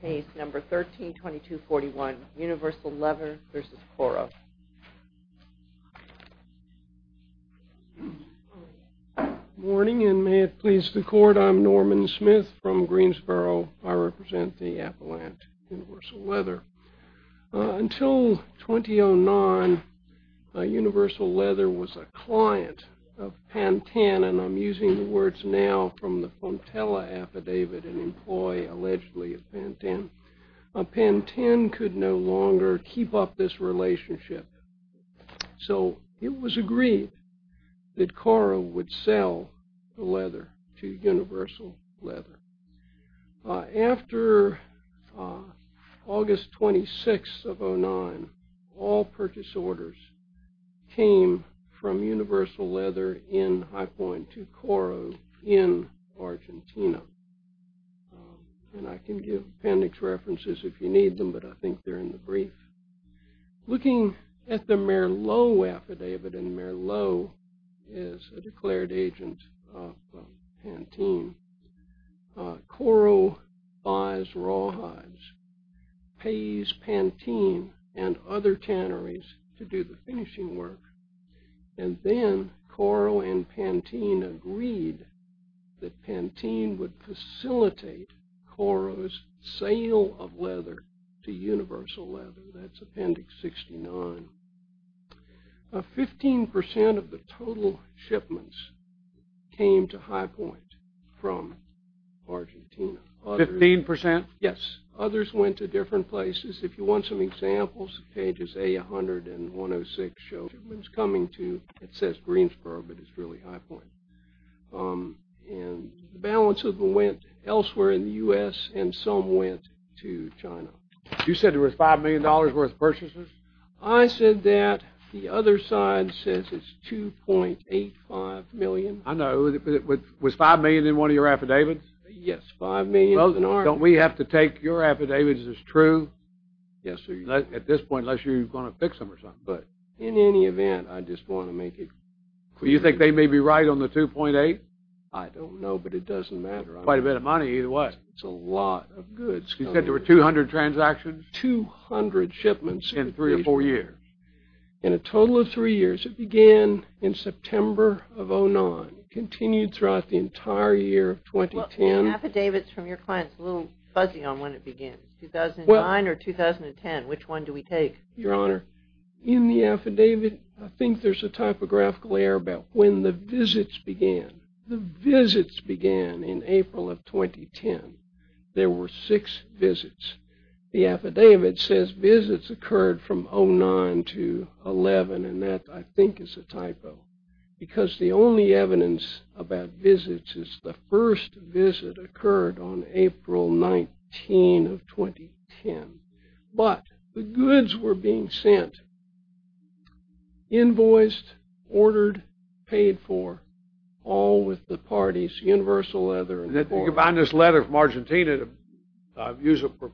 Case No. 13-2241, Universal Leather v. KORO. Morning, and may it please the Court, I'm Norman Smith from Greensboro. I represent the Appalachian Universal Leather. Until 2009, Universal Leather was a client of Pantan, and I'm using the words now from the Fontella affidavit, an employee allegedly of Pantan. Pantan could no longer keep up this relationship, so it was agreed that KORO would sell the leather to Universal Leather. After August 26th of 2009, all purchase orders came from Universal Leather in High Point to KORO in Argentina. And I can give appendix references if you need them, but I think they're in the brief. Looking at the Merlot affidavit, and Merlot is a declared agent of Pantan, KORO buys raw hives, pays Pantan and other tanneries to do the finishing work, and then KORO and Pantan agreed that Pantan would facilitate KORO's sale of leather to Universal Leather. That's appendix 69. Fifteen percent of the total shipments came to High Point from Argentina. Fifteen percent? Yes. Others went to different places. If you want some examples, pages A100 and 106 show shipments coming to, it says Greensboro, but it's really High Point. And the balance of them went elsewhere in the U.S., and some went to China. You said there was $5 million worth of purchases? I said that. The other side says it's $2.85 million. I know. Was $5 million in one of your affidavits? Yes, $5 million. Don't we have to take your affidavits as true? Yes, sir. At this point, unless you're going to fix them or something. But in any event, I just want to make it clear. Do you think they may be right on the $2.8? I don't know, but it doesn't matter. Quite a bit of money either way. It's a lot of goods. You said there were 200 transactions? There were 200 shipments in three or four years. In a total of three years. It began in September of 2009. It continued throughout the entire year of 2010. The affidavit from your client is a little fuzzy on when it begins. 2009 or 2010, which one do we take? Your Honor, in the affidavit, I think there's a typographical error about when the visits began. The visits began in April of 2010. There were six visits. The affidavit says visits occurred from 2009 to 2011, and that, I think, is a typo. Because the only evidence about visits is the first visit occurred on April 19 of 2010. But the goods were being sent, invoiced, ordered, paid for, all with the party's universal letter. You combine this letter from Argentina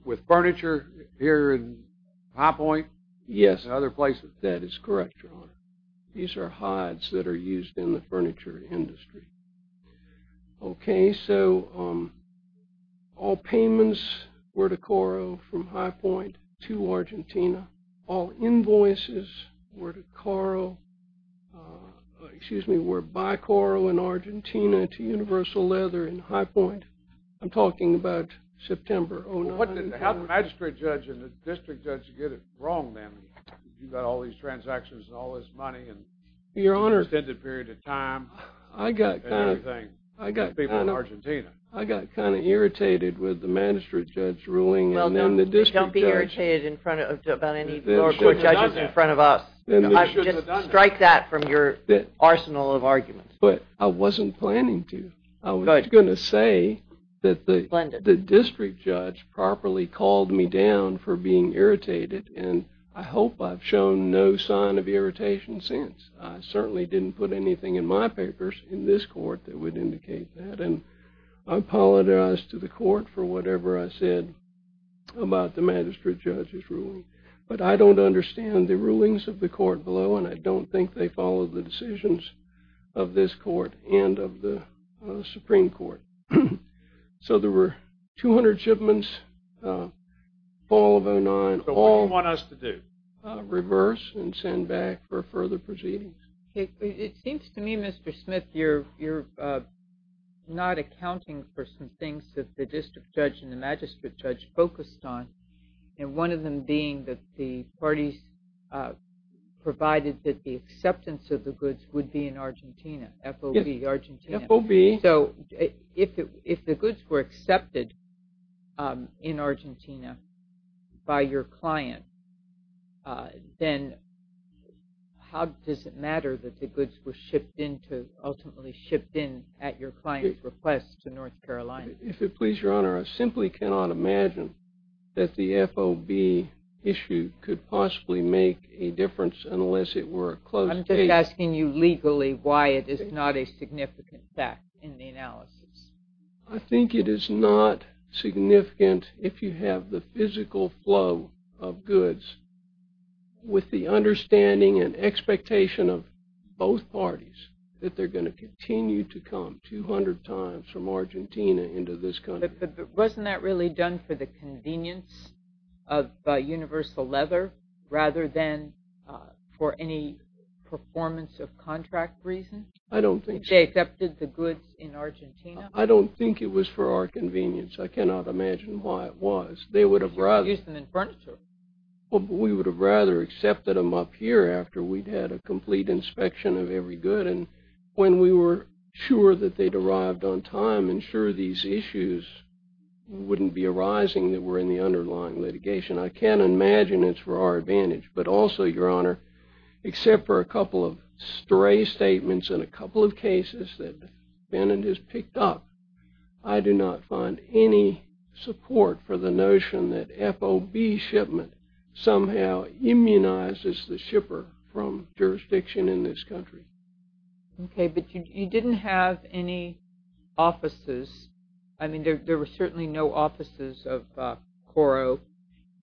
with furniture here in High Point and other places? Yes, that is correct, Your Honor. These are hides that are used in the furniture industry. Okay, so all payments were to Coro from High Point to Argentina. All invoices were to Coro, excuse me, were by Coro in Argentina to Universal Leather in High Point. I'm talking about September of 2009. How did the magistrate judge and the district judge get it wrong then? You've got all these transactions and all this money and extended period of time and everything. I got kind of irritated with the magistrate judge ruling and then the district judge. Don't be irritated about any lower court judges in front of us. Just strike that from your arsenal of arguments. But I wasn't planning to. I was going to say that the district judge properly called me down for being irritated, and I hope I've shown no sign of irritation since. I certainly didn't put anything in my papers in this court that would indicate that. I apologize to the court for whatever I said about the magistrate judge's ruling, but I don't understand the rulings of the court below, and I don't think they follow the decisions of this court and of the Supreme Court. So there were 200 shipments, fall of 2009. So what do you want us to do? Reverse and send back for further proceedings. It seems to me, Mr. Smith, you're not accounting for some things that the district judge and the magistrate judge focused on, and one of them being that the parties provided that the acceptance of the goods would be in Argentina. FOB, Argentina. FOB. So if the goods were accepted in Argentina by your client, then how does it matter that the goods were ultimately shipped in at your client's request to North Carolina? If it pleases Your Honor, I simply cannot imagine that the FOB issue could possibly make a difference unless it were a closed case. I'm just asking you legally why it is not a significant fact in the analysis. I think it is not significant if you have the physical flow of goods with the understanding and expectation of both parties that they're going to continue to come 200 times from Argentina into this country. Wasn't that really done for the convenience of universal leather rather than for any performance of contract reason? I don't think so. If they accepted the goods in Argentina? I don't think it was for our convenience. I cannot imagine why it was. They would have rather... You could have used them in furniture. We would have rather accepted them up here after we'd had a complete inspection of every good. When we were sure that they'd arrived on time and sure these issues wouldn't be arising that were in the underlying litigation, I can't imagine it's for our advantage. But also, Your Honor, except for a couple of stray statements and a couple of cases that Bennett has picked up, I do not find any support for the notion that FOB shipment somehow immunizes the shipper from jurisdiction in this country. Okay, but you didn't have any offices. I mean, there were certainly no offices of Coro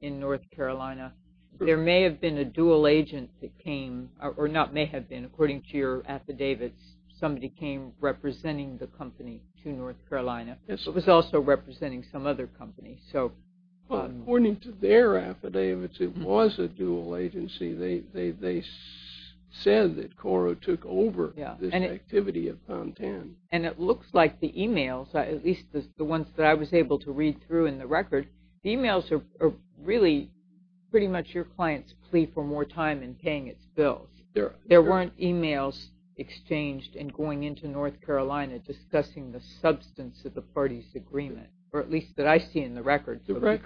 in North Carolina. There may have been a dual agent that came, or not may have been. According to your affidavits, somebody came representing the company to North Carolina but was also representing some other company. According to their affidavits, it was a dual agency. They said that Coro took over this activity of Pontan. And it looks like the e-mails, at least the ones that I was able to read through in the record, the e-mails are really pretty much your client's plea for more time in paying its bills. There weren't e-mails exchanged in going into North Carolina discussing the substance of the parties' agreement, or at least that I see in the record, so correct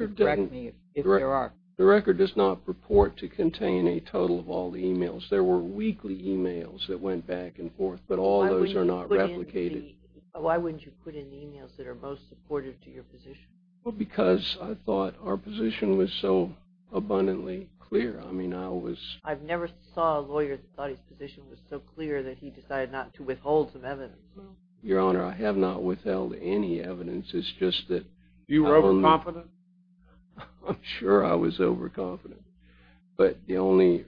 me if there are. The record does not purport to contain a total of all the e-mails. There were weekly e-mails that went back and forth, but all those are not replicated. Why wouldn't you put in the e-mails that are most supportive to your position? Because I thought our position was so abundantly clear. I've never saw a lawyer that thought his position was so clear that he decided not to withhold some evidence. Your Honor, I have not withheld any evidence. It's just that— You were overconfident? I'm sure I was overconfident. But the only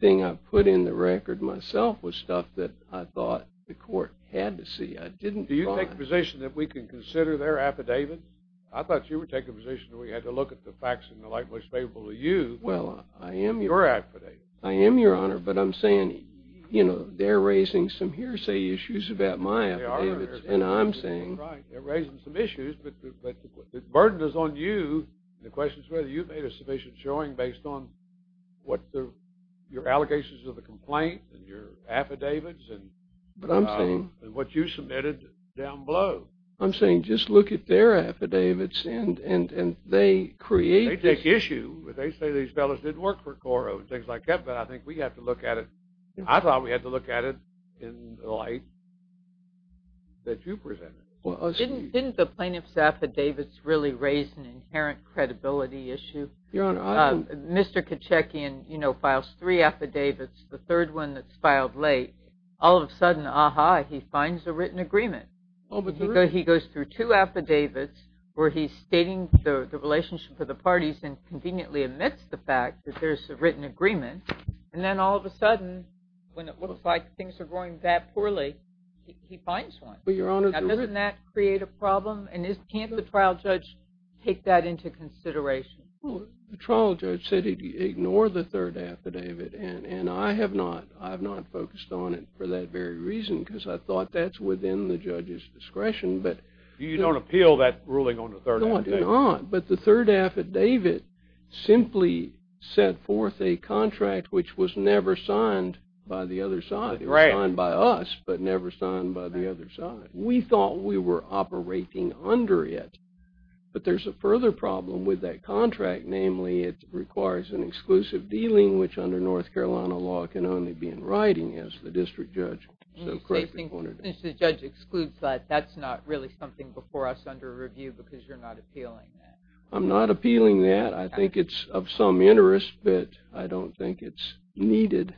thing I put in the record myself was stuff that I thought the court had to see. Do you take the position that we can consider their affidavit? I thought you were taking the position that we had to look at the facts in the light most favorable to you, your affidavit. I am, Your Honor, but I'm saying, you know, they're raising some hearsay issues about my affidavits, and I'm saying— Right, they're raising some issues, but the burden is on you. The question is whether you've made a sufficient showing based on what your allegations of the complaint and your affidavits and what you submitted down below. I'm saying just look at their affidavits, and they create— They take issue. They say these fellows didn't work for Coro and things like that, but I think we have to look at it. I thought we had to look at it in the light that you presented. Didn't the plaintiff's affidavits really raise an inherent credibility issue? Your Honor, I would— Mr. Kachekian, you know, files three affidavits, the third one that's filed late. All of a sudden, aha, he finds a written agreement. He goes through two affidavits where he's stating the relationship with the parties and conveniently admits the fact that there's a written agreement, and then all of a sudden, when it looks like things are going that poorly, he finds one. Doesn't that create a problem? And can't the trial judge take that into consideration? The trial judge said he'd ignore the third affidavit, and I have not focused on it for that very reason because I thought that's within the judge's discretion. You don't appeal that ruling on the third affidavit? No, I do not, but the third affidavit simply set forth a contract which was never signed by the other side. It was signed by us but never signed by the other side. We thought we were operating under it, but there's a further problem with that contract, namely it requires an exclusive dealing, which under North Carolina law can only be in writing as the district judge. Since the judge excludes that, that's not really something before us under review because you're not appealing that. I'm not appealing that. I think it's of some interest, but I don't think it's needed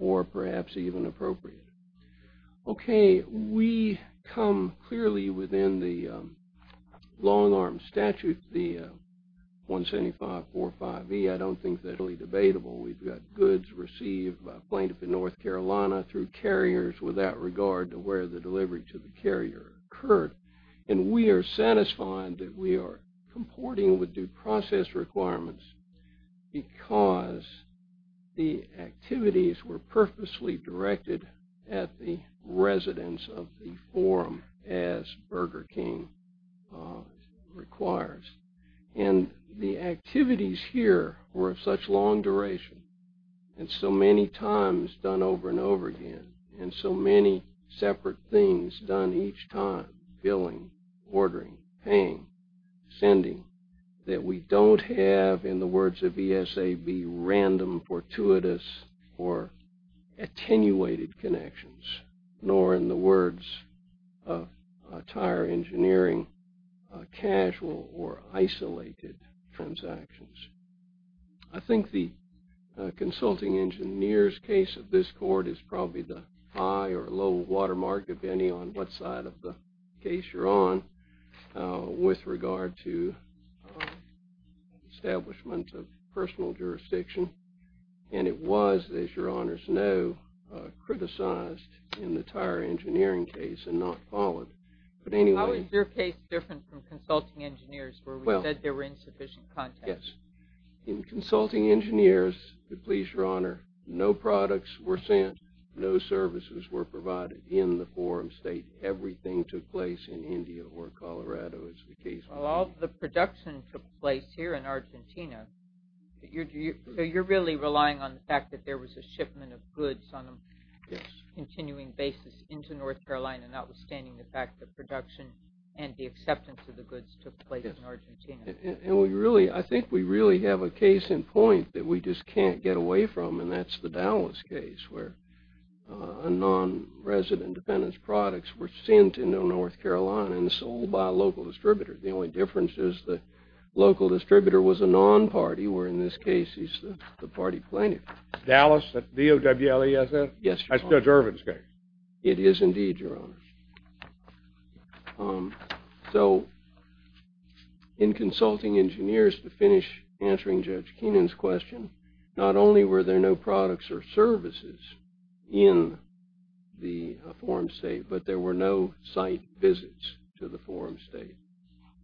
or perhaps even appropriate. Okay, we come clearly within the long-arm statute, the 17545E. I don't think that's really debatable. We've got goods received by a plaintiff in North Carolina through carriers with that regard to where the delivery to the carrier occurred, and we are satisfied that we are comporting with due process requirements because the activities were purposely directed at the residents of the forum as Burger King requires. The activities here were of such long duration and so many times done over and over again and so many separate things done each time, billing, ordering, paying, sending, that we don't have, in the words of ESAB, random, fortuitous, or attenuated connections, nor in the words of tire engineering, casual or isolated transactions. I think the consulting engineers case of this court is probably the high or low watermark, depending on what side of the case you're on, with regard to establishment of personal jurisdiction, and it was, as your honors know, criticized in the tire engineering case and not followed. But anyway... How is your case different from consulting engineers where we said there were insufficient contacts? Yes. In consulting engineers, please, your honor, no products were sent, no services were provided in the forum state. Everything took place in India or Colorado, as the case may be. Well, all the production took place here in Argentina. So you're really relying on the fact that there was a shipment of goods on a continuing basis into North Carolina, notwithstanding the fact that production and the acceptance of the goods took place in Argentina. And I think we really have a case in point that we just can't get away from, and that's the Dallas case, where non-resident dependents' products were sent into North Carolina and sold by a local distributor. The only difference is the local distributor was a non-party, where in this case he's the party plaintiff. Dallas, at D-O-W-L-E-S-S? Yes, your honor. That's Judge Irvin's case. It is indeed, your honor. So in consulting engineers, to finish answering Judge Keenan's question, not only were there no products or services in the forum state, but there were no site visits to the forum state.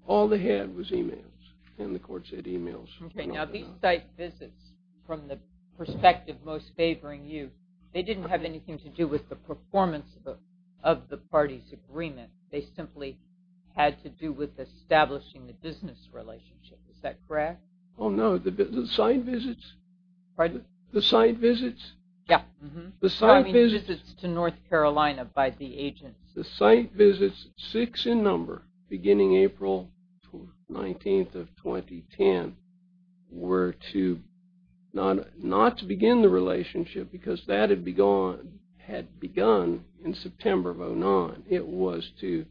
All they had was e-mails, and the court said e-mails. Okay, now these site visits, from the perspective most favoring you, they didn't have anything to do with the performance of the party's agreement. They simply had to do with establishing the business relationship. Is that correct? Oh, no. The site visits? Pardon? The site visits? Yeah. The site visits to North Carolina by the agents. The site visits, six in number, beginning April 19th of 2010, were not to begin the relationship because that had begun in September of 2009. It was to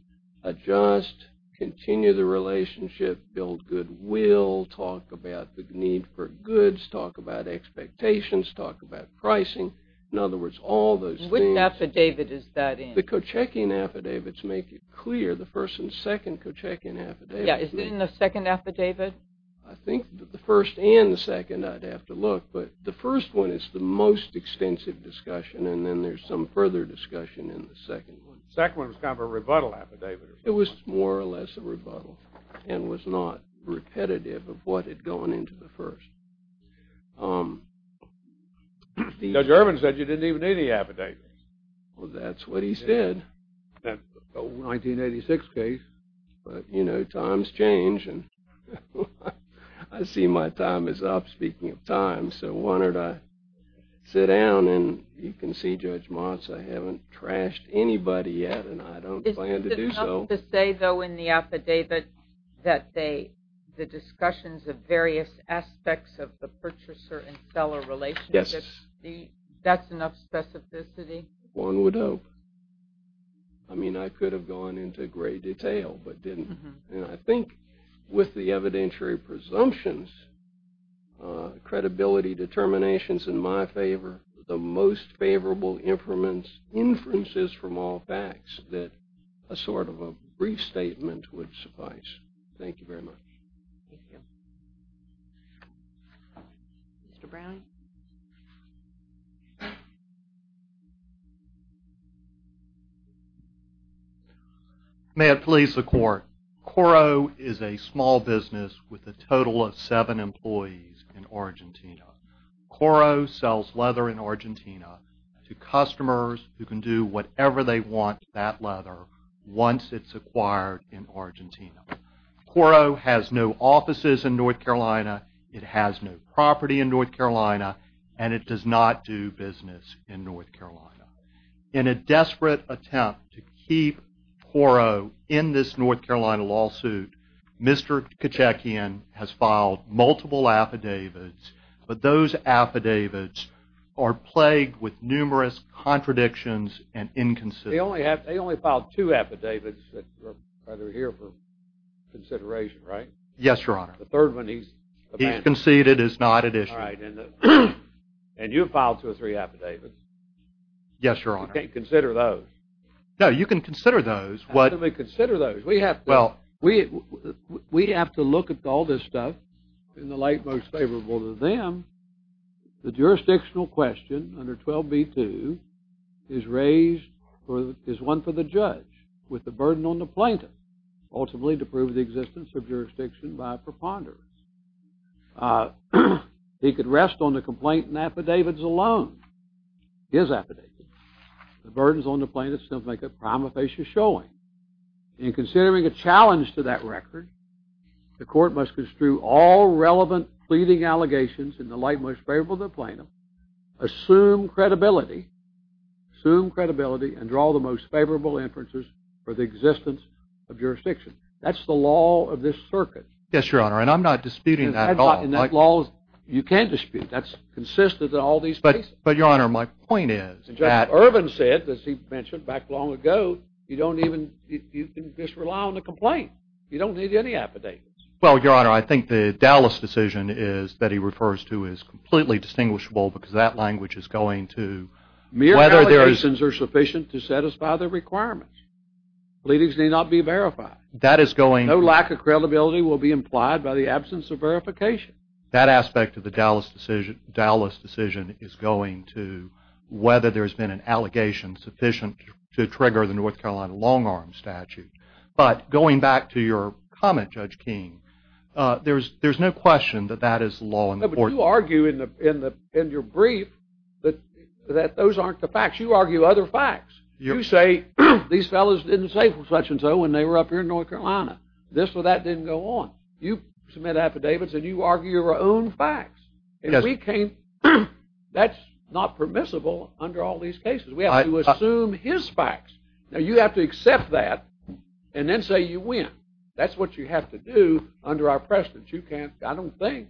adjust, continue the relationship, build goodwill, talk about the need for goods, talk about expectations, talk about pricing. In other words, all those things. What affidavit is that in? The Kochekian affidavits make it clear, the first and second Kochekian affidavits. Yeah, is it in the second affidavit? I think that the first and the second I'd have to look, but the first one is the most extensive discussion and then there's some further discussion in the second one. The second one was kind of a rebuttal affidavit. It was more or less a rebuttal and was not repetitive of what had gone into the first. Judge Irvin said you didn't even need any affidavits. Well, that's what he said. 1986 case. But, you know, times change and I see my time is up, speaking of time, so why don't I sit down and you can see, Judge Moss, I haven't trashed anybody yet and I don't plan to do so. Is it enough to say, though, in the affidavit that the discussions of various aspects of the purchaser and seller relationship, that's enough specificity? One would hope. I mean, I could have gone into great detail, but didn't. I think with the evidentiary presumptions, credibility determinations in my favor, the most favorable inferences from all facts that a sort of a brief statement would suffice. Thank you very much. Mr. Brown? May it please the Court. Coro is a small business with a total of seven employees in Argentina. Coro sells leather in Argentina to customers who can do whatever they want that leather once it's acquired in Argentina. Coro has no offices in North Carolina, it has no property in North Carolina, and it does not do business in North Carolina. In a desperate attempt to keep Coro in this North Carolina lawsuit, Mr. Kitchakian has filed multiple affidavits, but those affidavits are plagued with numerous contradictions and inconsistencies. They only filed two affidavits that are here for consideration, right? Yes, Your Honor. The third one he's abandoned. He's conceded is not at issue. And you have filed two or three affidavits? Yes, Your Honor. You can't consider those? No, you can consider those. How can we consider those? We have to look at all this stuff in the light most favorable to them. The jurisdictional question under 12b-2 is one for the judge with the burden on the plaintiff, ultimately to prove the existence of jurisdiction by preponderance. He could rest on the complaint and affidavits alone. His affidavits, the burdens on the plaintiff still make a prima facie showing. In considering a challenge to that record, the court must construe all relevant pleading allegations in the light most favorable to the plaintiff, assume credibility, assume credibility, and draw the most favorable inferences for the existence of jurisdiction. That's the law of this circuit. Yes, Your Honor. And I'm not disputing that at all. And that law, you can dispute. That's consistent in all these cases. But, Your Honor, my point is that... And Judge Irvin said, as he mentioned back long ago, you don't even, you can just rely on the complaint. You don't need any affidavits. Well, Your Honor, I think the Dallas decision that he refers to is completely distinguishable because that language is going to... Mere allegations are sufficient to satisfy the requirements. Pleadings may not be verified. That is going... No lack of credibility will be implied by the absence of verification. That aspect of the Dallas decision is going to whether there's been an allegation sufficient to trigger the North Carolina long-arm statute. But going back to your comment, Judge King, there's no question that that is law in the court. But you argue in your brief that those aren't the facts. You argue other facts. You say these fellows didn't say such-and-so when they were up here in North Carolina. This or that didn't go on. You submit affidavits and you argue your own facts. And we came... That's not permissible under all these cases. We have to assume his facts. Now, you have to accept that and then say you win. That's what you have to do under our precedent. You can't, I don't think,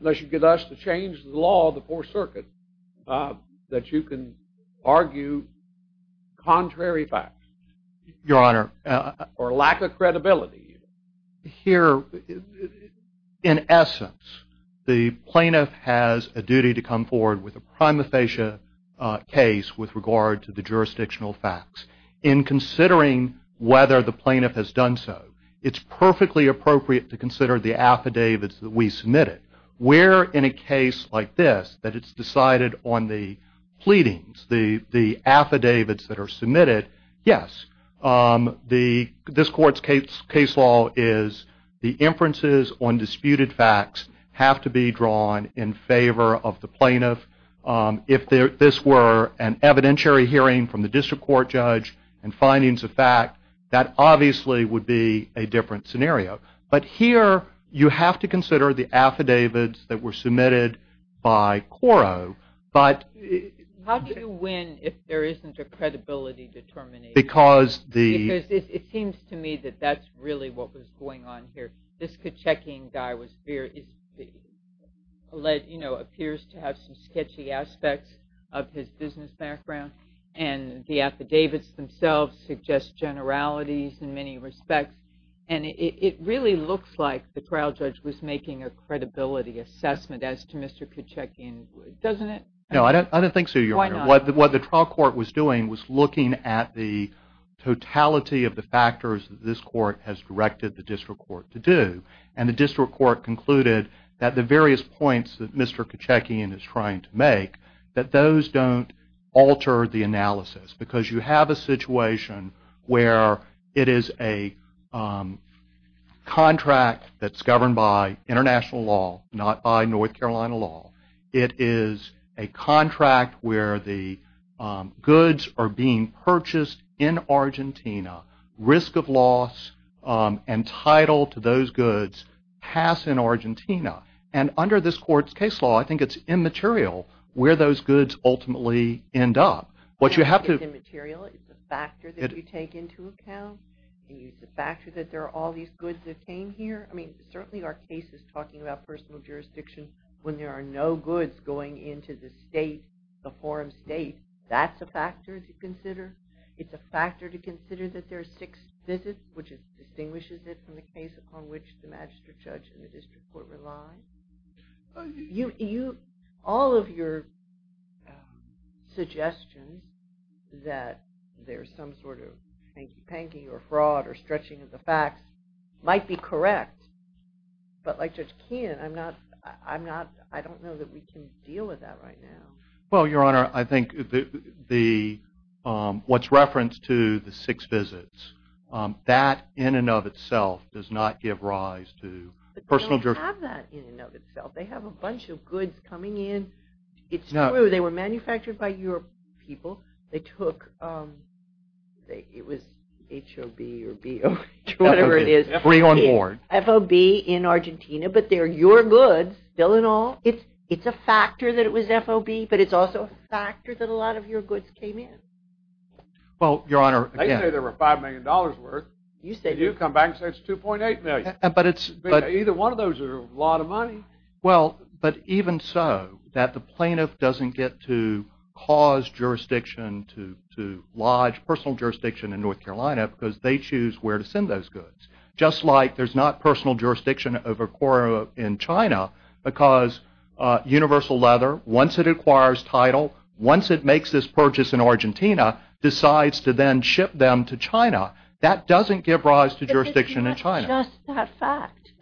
unless you get us to change the law of the Fourth Circuit, that you can argue contrary facts. Your Honor... Or lack of credibility. Here, in essence, the plaintiff has a duty to come forward with a prima facie case with regard to the jurisdictional facts. In considering whether the plaintiff has done so, it's perfectly appropriate to consider the affidavits that we submitted. Where, in a case like this, that it's decided on the pleadings, the affidavits that are submitted, yes. This Court's case law is the inferences on disputed facts have to be drawn in favor of the plaintiff. If this were an evidentiary hearing from the district court judge and findings of fact, that obviously would be a different scenario. But here, you have to consider the affidavits that were submitted by Coro. But... How do you win if there isn't a credibility determination? Because the... Because it seems to me that that's really what was going on here. This Kachekian guy was very, you know, appears to have some sketchy aspects of his business background. And the affidavits themselves suggest generalities in many respects. And it really looks like the trial judge was making a credibility assessment as to Mr. Kachekian. Doesn't it? No, I don't think so, Your Honor. Why not? What the trial court was doing was looking at the totality of the factors that this court has directed the district court to do. And the district court concluded that the various points that Mr. Kachekian is trying to make, that those don't alter the analysis. Because you have a situation where it is a contract that's governed by international law, not by North Carolina law. It is a contract where the goods are being purchased in Argentina. Risk of loss and title to those goods pass in Argentina. And under this court's case law, I think it's immaterial where those goods ultimately end up. It's immaterial. It's a factor that you take into account. It's a factor that there are all these goods that came here. I mean, certainly our case is talking about personal jurisdiction when there are no goods going into the state, the forum state. That's a factor to consider. It's a factor to consider that there are six visits, which distinguishes it from the case upon which the magistrate judge and the district court rely. All of your suggestions that there's some sort of hanky-panky or fraud or stretching of the facts might be correct. But like Judge Kachekian, I don't know that we can deal with that right now. Well, Your Honor, I think what's referenced to the six visits, that in and of itself does not give rise to personal jurisdiction. They don't have that in and of itself. They have a bunch of goods coming in. It's true. They were manufactured by your people. They took, it was H-O-B or B-O-E, whatever it is. F-O-B in Argentina. But they're your goods, still and all. It's a factor that it was F-O-B, but it's also a factor that a lot of your goods came in. Well, Your Honor, again. They say there were $5 million worth. You come back and say it's $2.8 million. Either one of those is a lot of money. Well, but even so, that the plaintiff doesn't get to cause jurisdiction to lodge personal jurisdiction in North Carolina because they choose where to send those goods. Just like there's not personal jurisdiction in China because Universal Leather, once it acquires title, once it makes this purchase in Argentina, decides to then ship them to China. That doesn't give rise to jurisdiction in China. It's just that fact.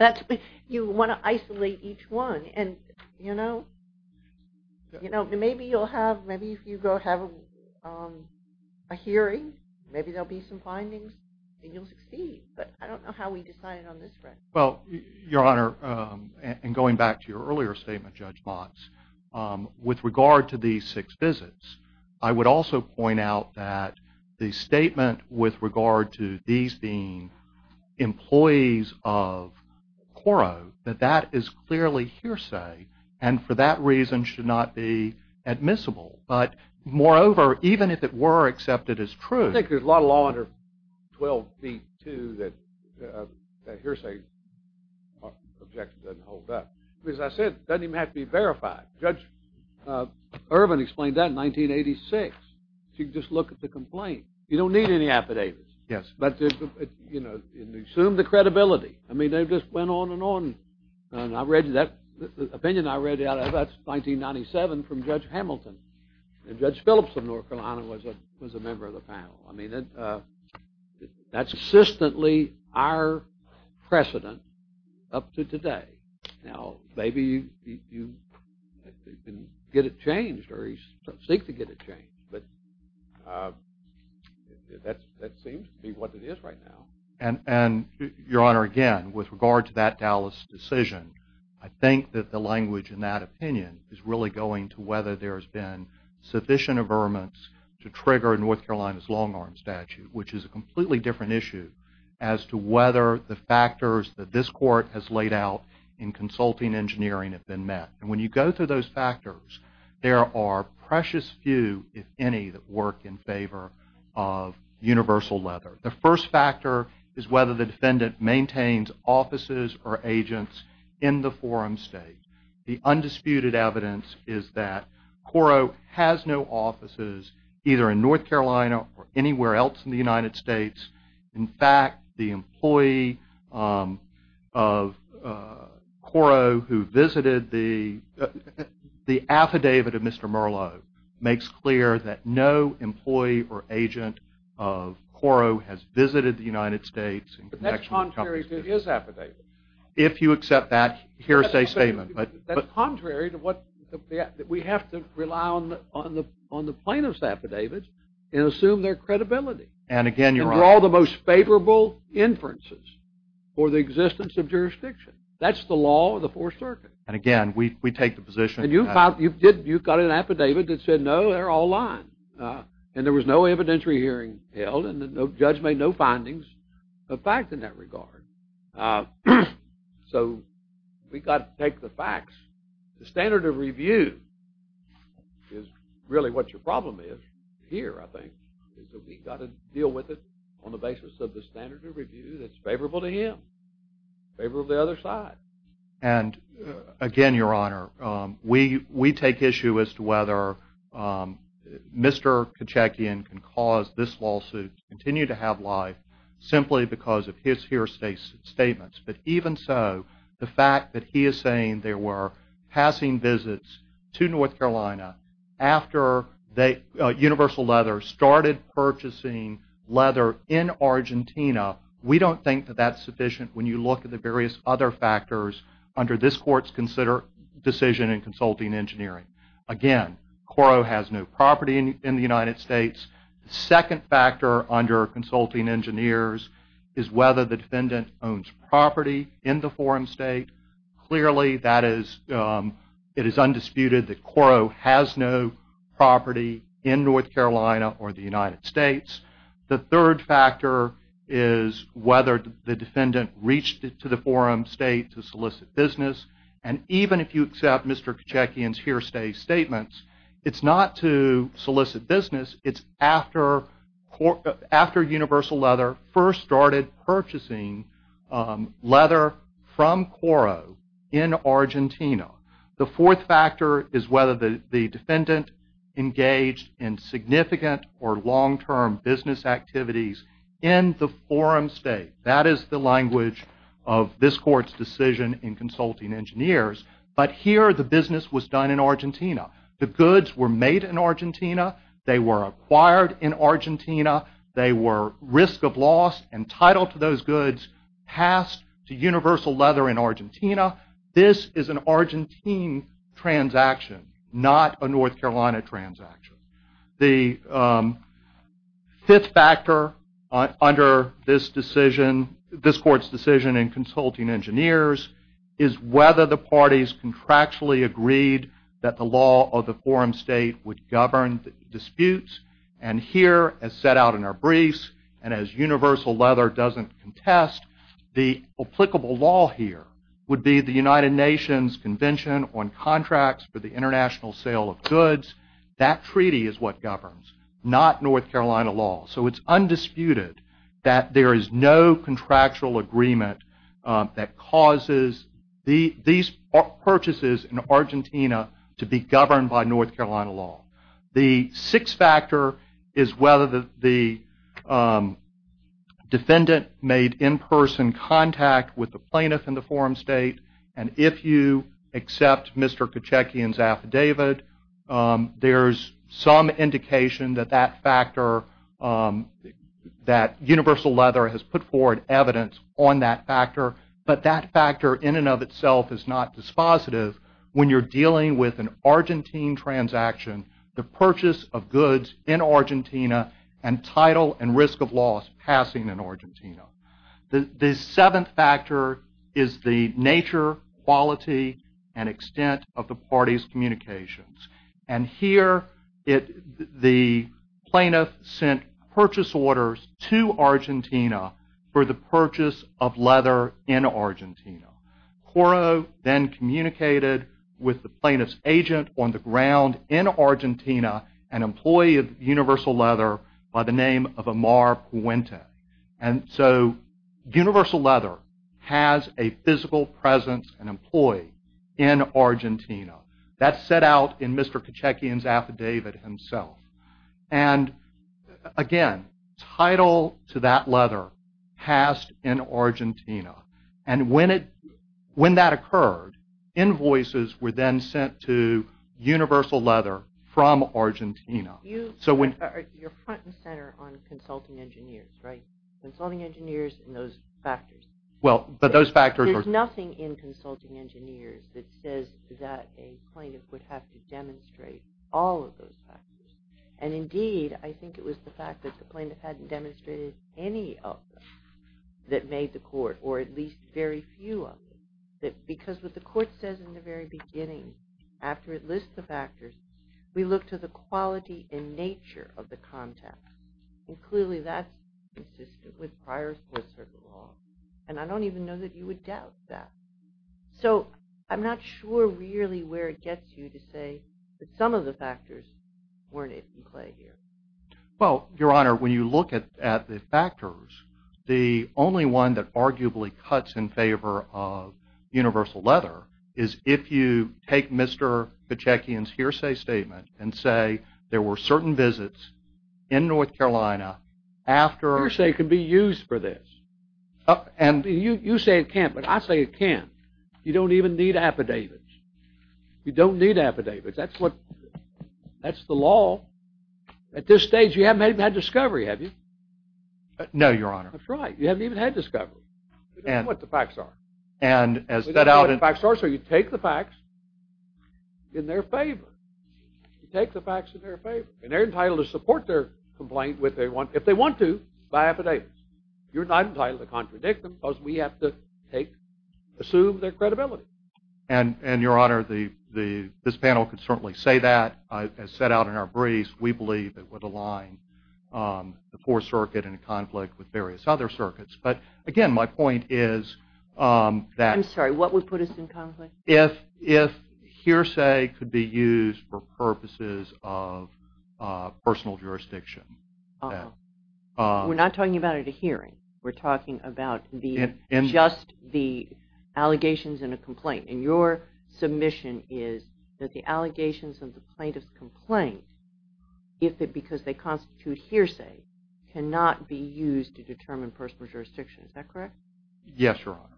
You want to isolate each one. And, you know, maybe you'll have, maybe if you go have a hearing, maybe there'll be some findings, and you'll succeed. But I don't know how we decide on this front. Well, Your Honor, and going back to your earlier statement, Judge Motz, with regard to these six visits, I would also point out that the statement with regard to these being employees of Quoro, that that is clearly hearsay, and for that reason should not be admissible. But, moreover, even if it were accepted as truth. I think there's a lot of law under 12b-2 that hearsay objection doesn't hold up. As I said, it doesn't even have to be verified. Judge Irvin explained that in 1986. You can just look at the complaint. You don't need any affidavits. Yes. But, you know, assume the credibility. I mean, they just went on and on. And I read that opinion I read out about 1997 from Judge Hamilton. And Judge Phillips of North Carolina was a member of the panel. I mean, that's consistently our precedent up to today. Now, maybe you can get it changed or seek to get it changed. But that seems to be what it is right now. And, Your Honor, again, with regard to that Dallas decision, I think that the language in that opinion is really going to whether there's been sufficient averments to trigger North Carolina's long-arm statute, which is a completely different issue as to whether the factors that this court has laid out in consulting engineering have been met. And when you go through those factors, there are precious few, if any, that work in favor of universal leather. The first factor is whether the defendant maintains offices or agents in the forum state. The undisputed evidence is that Coro has no offices either in North Carolina or anywhere else in the United States. In fact, the employee of Coro who visited the affidavit of Mr. Merlo makes clear that no employee or agent of Coro has visited the United States. But that's contrary to his affidavit. If you accept that, here's a statement. That's contrary to what we have to rely on the plaintiff's affidavit and assume their credibility. And again, you're right. And draw the most favorable inferences for the existence of jurisdiction. That's the law of the Fourth Circuit. And again, we take the position. And you've got an affidavit that said, no, they're all lying. And there was no evidentiary hearing held, and the judge made no findings of fact in that regard. So we've got to take the facts. The standard of review is really what your problem is here, I think. We've got to deal with it on the basis of the standard of review that's favorable to him, favorable to the other side. And again, Your Honor, we take issue as to whether Mr. Kitchakian can cause this lawsuit to continue to have life simply because of his here statements. But even so, the fact that he is saying there were passing visits to North Carolina after Universal Leather started purchasing leather in Argentina, we don't think that that's sufficient when you look at the various other factors under this Court's decision in consulting engineering. Again, Coro has no property in the United States. The second factor under consulting engineers is whether the defendant owns property in the forum state. Clearly, it is undisputed that Coro has no property in North Carolina or the United States. The third factor is whether the defendant reached to the forum state to solicit business. And even if you accept Mr. Kitchakian's here stay statements, it's not to solicit business. It's after Universal Leather first started purchasing leather from Coro in Argentina. The fourth factor is whether the defendant engaged in significant or long-term business activities in the forum state. That is the language of this Court's decision in consulting engineers. But here the business was done in Argentina. The goods were made in Argentina. They were acquired in Argentina. They were risk of loss entitled to those goods passed to Universal Leather in Argentina. This is an Argentine transaction, not a North Carolina transaction. The fifth factor under this Court's decision in consulting engineers is whether the parties contractually agreed that the law of the forum state would govern disputes. And here, as set out in our briefs, and as Universal Leather doesn't contest, the applicable law here would be the United Nations Convention on Contracts for the International Sale of Goods. That treaty is what governs, not North Carolina law. So it's undisputed that there is no contractual agreement that causes these purchases in Argentina to be governed by North Carolina law. The sixth factor is whether the defendant made in-person contact with the plaintiff in the forum state. And if you accept Mr. Kochekian's affidavit, there's some indication that that factor, that Universal Leather has put forward evidence on that factor. But that factor in and of itself is not dispositive when you're dealing with an Argentine transaction, the purchase of goods in Argentina, and title and risk of loss passing in Argentina. The seventh factor is the nature, quality, and extent of the parties' communications. And here, the plaintiff sent purchase orders to Argentina for the purchase of leather in Argentina. Koro then communicated with the plaintiff's agent on the ground in Argentina, an employee of Universal Leather by the name of Amar Puente. And so Universal Leather has a physical presence, an employee, in Argentina. That's set out in Mr. Kochekian's affidavit himself. And again, title to that leather passed in Argentina. And when that occurred, invoices were then sent to Universal Leather from Argentina. You're front and center on consulting engineers, right? Consulting engineers and those factors. There's nothing in consulting engineers that says that a plaintiff would have to demonstrate all of those factors. And indeed, I think it was the fact that the plaintiff hadn't demonstrated any of them that made the court, or at least very few of them. Because what the court says in the very beginning, after it lists the factors, we look to the quality and nature of the contact. And clearly that's consistent with prior Fourth Circuit law. And I don't even know that you would doubt that. So I'm not sure really where it gets you to say that some of the factors weren't in play here. Well, Your Honor, when you look at the factors, the only one that arguably cuts in favor of Universal Leather is if you take Mr. Kochekian's hearsay statement and say there were certain visits in North Carolina after... Hearsay can be used for this. You say it can't, but I say it can. You don't even need affidavits. You don't need affidavits. That's the law. At this stage, you haven't even had discovery, have you? No, Your Honor. That's right. You haven't even had discovery. We don't know what the facts are. We don't know what the facts are, so you take the facts in their favor. You take the facts in their favor. And they're entitled to support their complaint if they want to by affidavits. You're not entitled to contradict them because we have to assume their credibility. And, Your Honor, this panel can certainly say that. As set out in our briefs, we believe it would align the Fourth Circuit in conflict with various other circuits. But, again, my point is that... I'm sorry. What would put us in conflict? If hearsay could be used for purposes of personal jurisdiction. Uh-oh. We're not talking about at a hearing. We're talking about just the allegations in a complaint. And your submission is that the allegations in the plaintiff's complaint, if it's because they constitute hearsay, cannot be used to determine personal jurisdiction. Is that correct? Yes, Your Honor.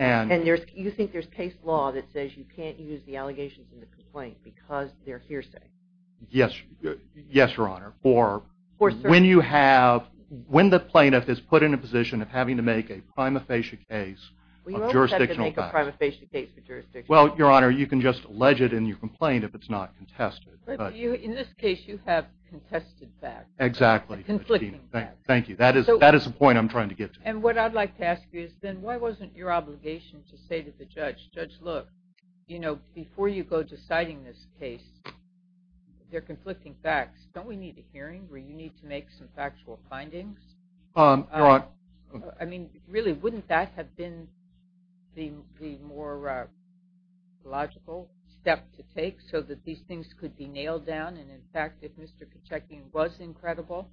And you think there's case law that says you can't use the allegations in the complaint because they're hearsay? Yes, Your Honor. When the plaintiff is put in a position of having to make a prima facie case of jurisdictional facts... Well, Your Honor, you can just allege it in your complaint if it's not contested. In this case, you have contested facts. Exactly. Conflicting facts. Thank you. That is the point I'm trying to get to. And what I'd like to ask you is then why wasn't your obligation to say to the judge, Judge, look, you know, before you go deciding this case, there are conflicting facts. Don't we need a hearing where you need to make some factual findings? Your Honor... I mean, really, wouldn't that have been the more logical step to take so that these things could be nailed down and, in fact, if Mr. Pacheco was incredible,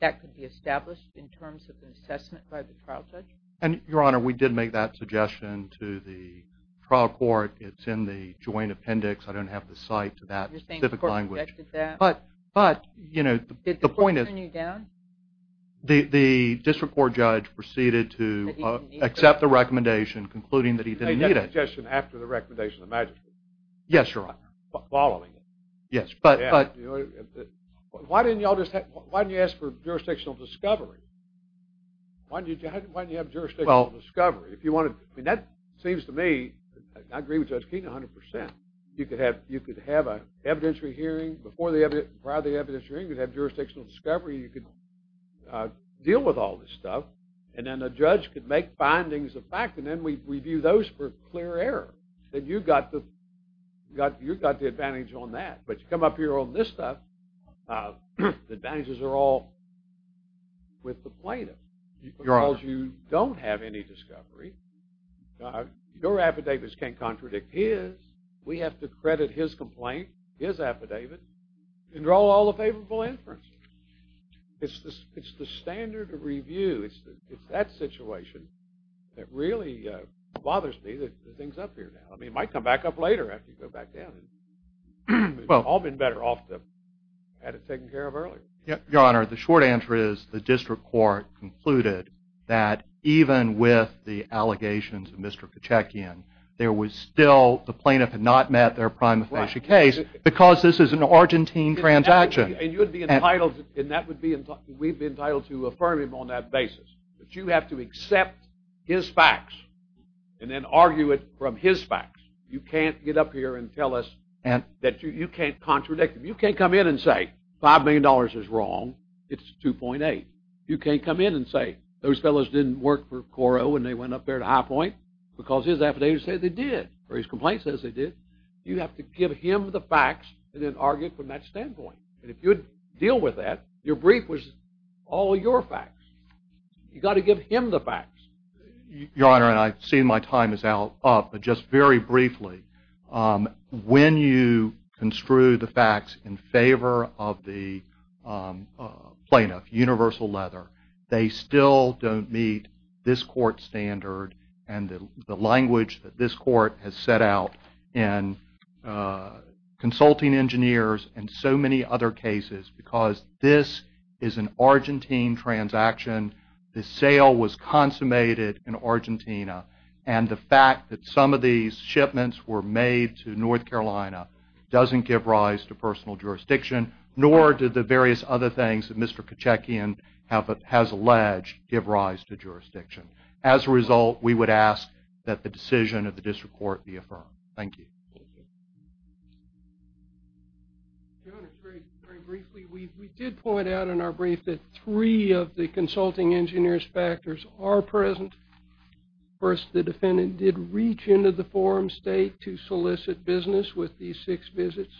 that could be established in terms of an assessment by the trial judge? And, Your Honor, we did make that suggestion to the trial court. It's in the joint appendix. I don't have the site to that specific language. But, you know, the point is... Did the court turn you down? The district court judge proceeded to accept the recommendation, concluding that he didn't need it. He made that suggestion after the recommendation of the magistrate. Yes, Your Honor. Following it. Yes, but... Why didn't you ask for jurisdictional discovery? Why didn't you have jurisdictional discovery? I mean, that seems to me, and I agree with Judge Keene 100%, you could have an evidentiary hearing before the evidentiary hearing, you could have jurisdictional discovery, you could deal with all this stuff, and then a judge could make findings of fact, and then we view those for clear error. You've got the advantage on that. But you come up here on this stuff, the advantages are all with the plaintiff. Your Honor. Because you don't have any discovery. Your affidavits can't contradict his. We have to credit his complaint, his affidavit, and draw all the favorable inferences. It's the standard review. It's that situation that really bothers me that the thing's up here now. I mean, it might come back up later after you go back down. It would have all been better off had it taken care of earlier. Your Honor, the short answer is the district court concluded that even with the allegations of Mr. Pacheckian, there was still, the plaintiff had not met their prima facie case. Because this is an Argentine transaction. And you would be entitled, and that would be, we'd be entitled to affirm him on that basis. But you have to accept his facts and then argue it from his facts. You can't get up here and tell us that you can't contradict him. You can't come in and say $5 million is wrong, it's 2.8. You can't come in and say those fellows didn't work for Coro and they went up there to High Point because his affidavit says they did, or his complaint says they did. You have to give him the facts and then argue it from that standpoint. And if you would deal with that, your brief was all your facts. You've got to give him the facts. Your Honor, and I've seen my time is out, but just very briefly, when you construe the facts in favor of the plaintiff, universal leather, they still don't meet this court standard and the language that this court has set out in Consulting Engineers and so many other cases because this is an Argentine transaction. The sale was consummated in Argentina. And the fact that some of these shipments were made to North Carolina doesn't give rise to personal jurisdiction, nor do the various other things that Mr. Kachekian has alleged give rise to jurisdiction. As a result, we would ask that the decision of the district court be affirmed. Thank you. Your Honor, very briefly, we did point out in our brief that three of the Consulting Engineers' factors are present. First, the defendant did reach into the forum state to solicit business with these six visits.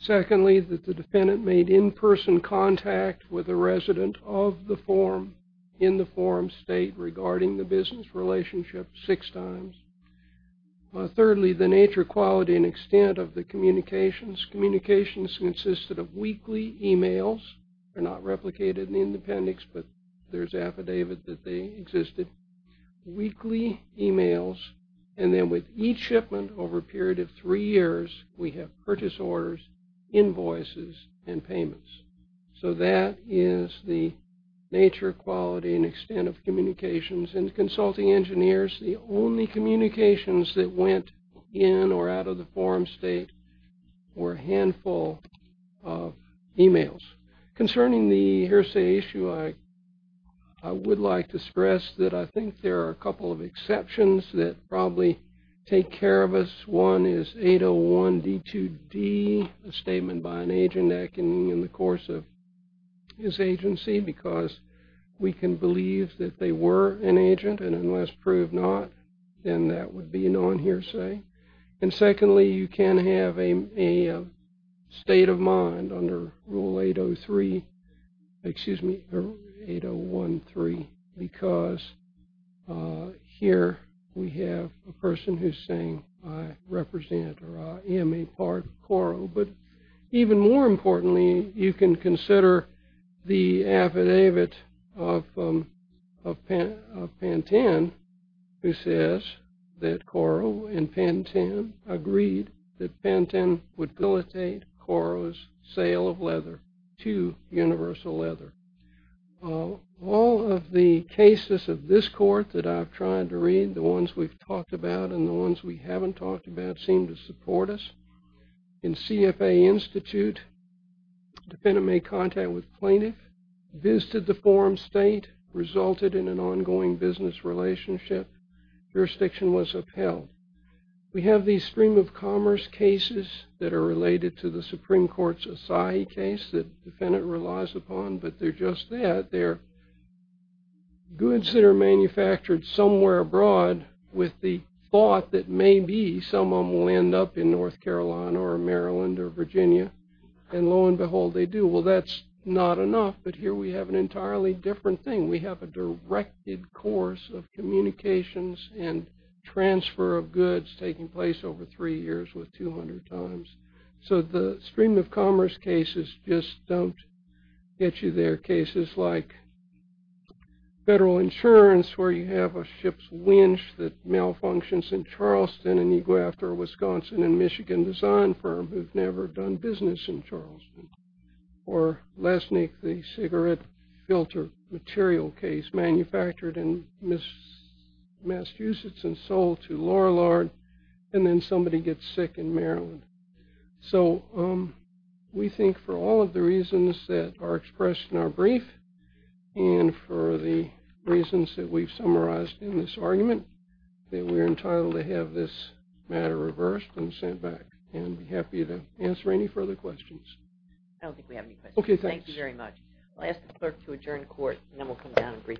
Secondly, that the defendant made in-person contact with a resident of the forum in the forum state regarding the business relationship six times. Thirdly, the nature, quality, and extent of the communications. Communications consisted of weekly emails. They're not replicated in the appendix, but there's affidavit that they existed. Weekly emails, and then with each shipment over a period of three years, we have purchase orders, invoices, and payments. So that is the nature, quality, and extent of communications. And the Consulting Engineers, the only communications that went in or out of the forum state were a handful of emails. Concerning the hearsay issue, I would like to stress that I think there are a couple of exceptions that probably take care of us. One is 801D2D, a statement by an agent in the course of his agency, because we can believe that they were an agent, and unless proved not, then that would be a non-hearsay. And secondly, you can have a state of mind under Rule 803, excuse me, 801.3, because here we have a person who's saying, I represent, or I am a part of Coro. But even more importantly, you can consider the affidavit of Pantene, who says that Coro and Pantene agreed that Pantene would facilitate Coro's sale of leather to Universal Leather. All of the cases of this court that I've tried to read, the ones we've talked about and the ones we haven't talked about, seem to support us. In CFA Institute, defendant made contact with plaintiff, visited the forum state, resulted in an ongoing business relationship, jurisdiction was upheld. We have these stream of commerce cases that are related to the Supreme Court's Asahi case that the defendant relies upon, but they're just that. They're goods that are manufactured somewhere abroad with the thought that maybe someone will end up in North Carolina or Maryland or Virginia, and lo and behold, they do. Well, that's not enough, but here we have an entirely different thing. We have a directed course of communications and transfer of goods taking place over three years with 200 times. So the stream of commerce cases just don't get you there. Cases like federal insurance where you have a ship's winch that malfunctions in Charleston and you go after a Wisconsin and Michigan design firm who've never done business in Charleston. Or Lesnick, the cigarette filter material case manufactured in Massachusetts and sold to Lorillard, and then somebody gets sick in Maryland. So we think for all of the reasons that are expressed in our brief and for the reasons that we've summarized in this argument, that we're entitled to have this matter reversed and sent back and be happy to answer any further questions. I don't think we have any questions. Okay, thanks. Thank you very much. I'll ask the clerk to adjourn court and then we'll come down and brief.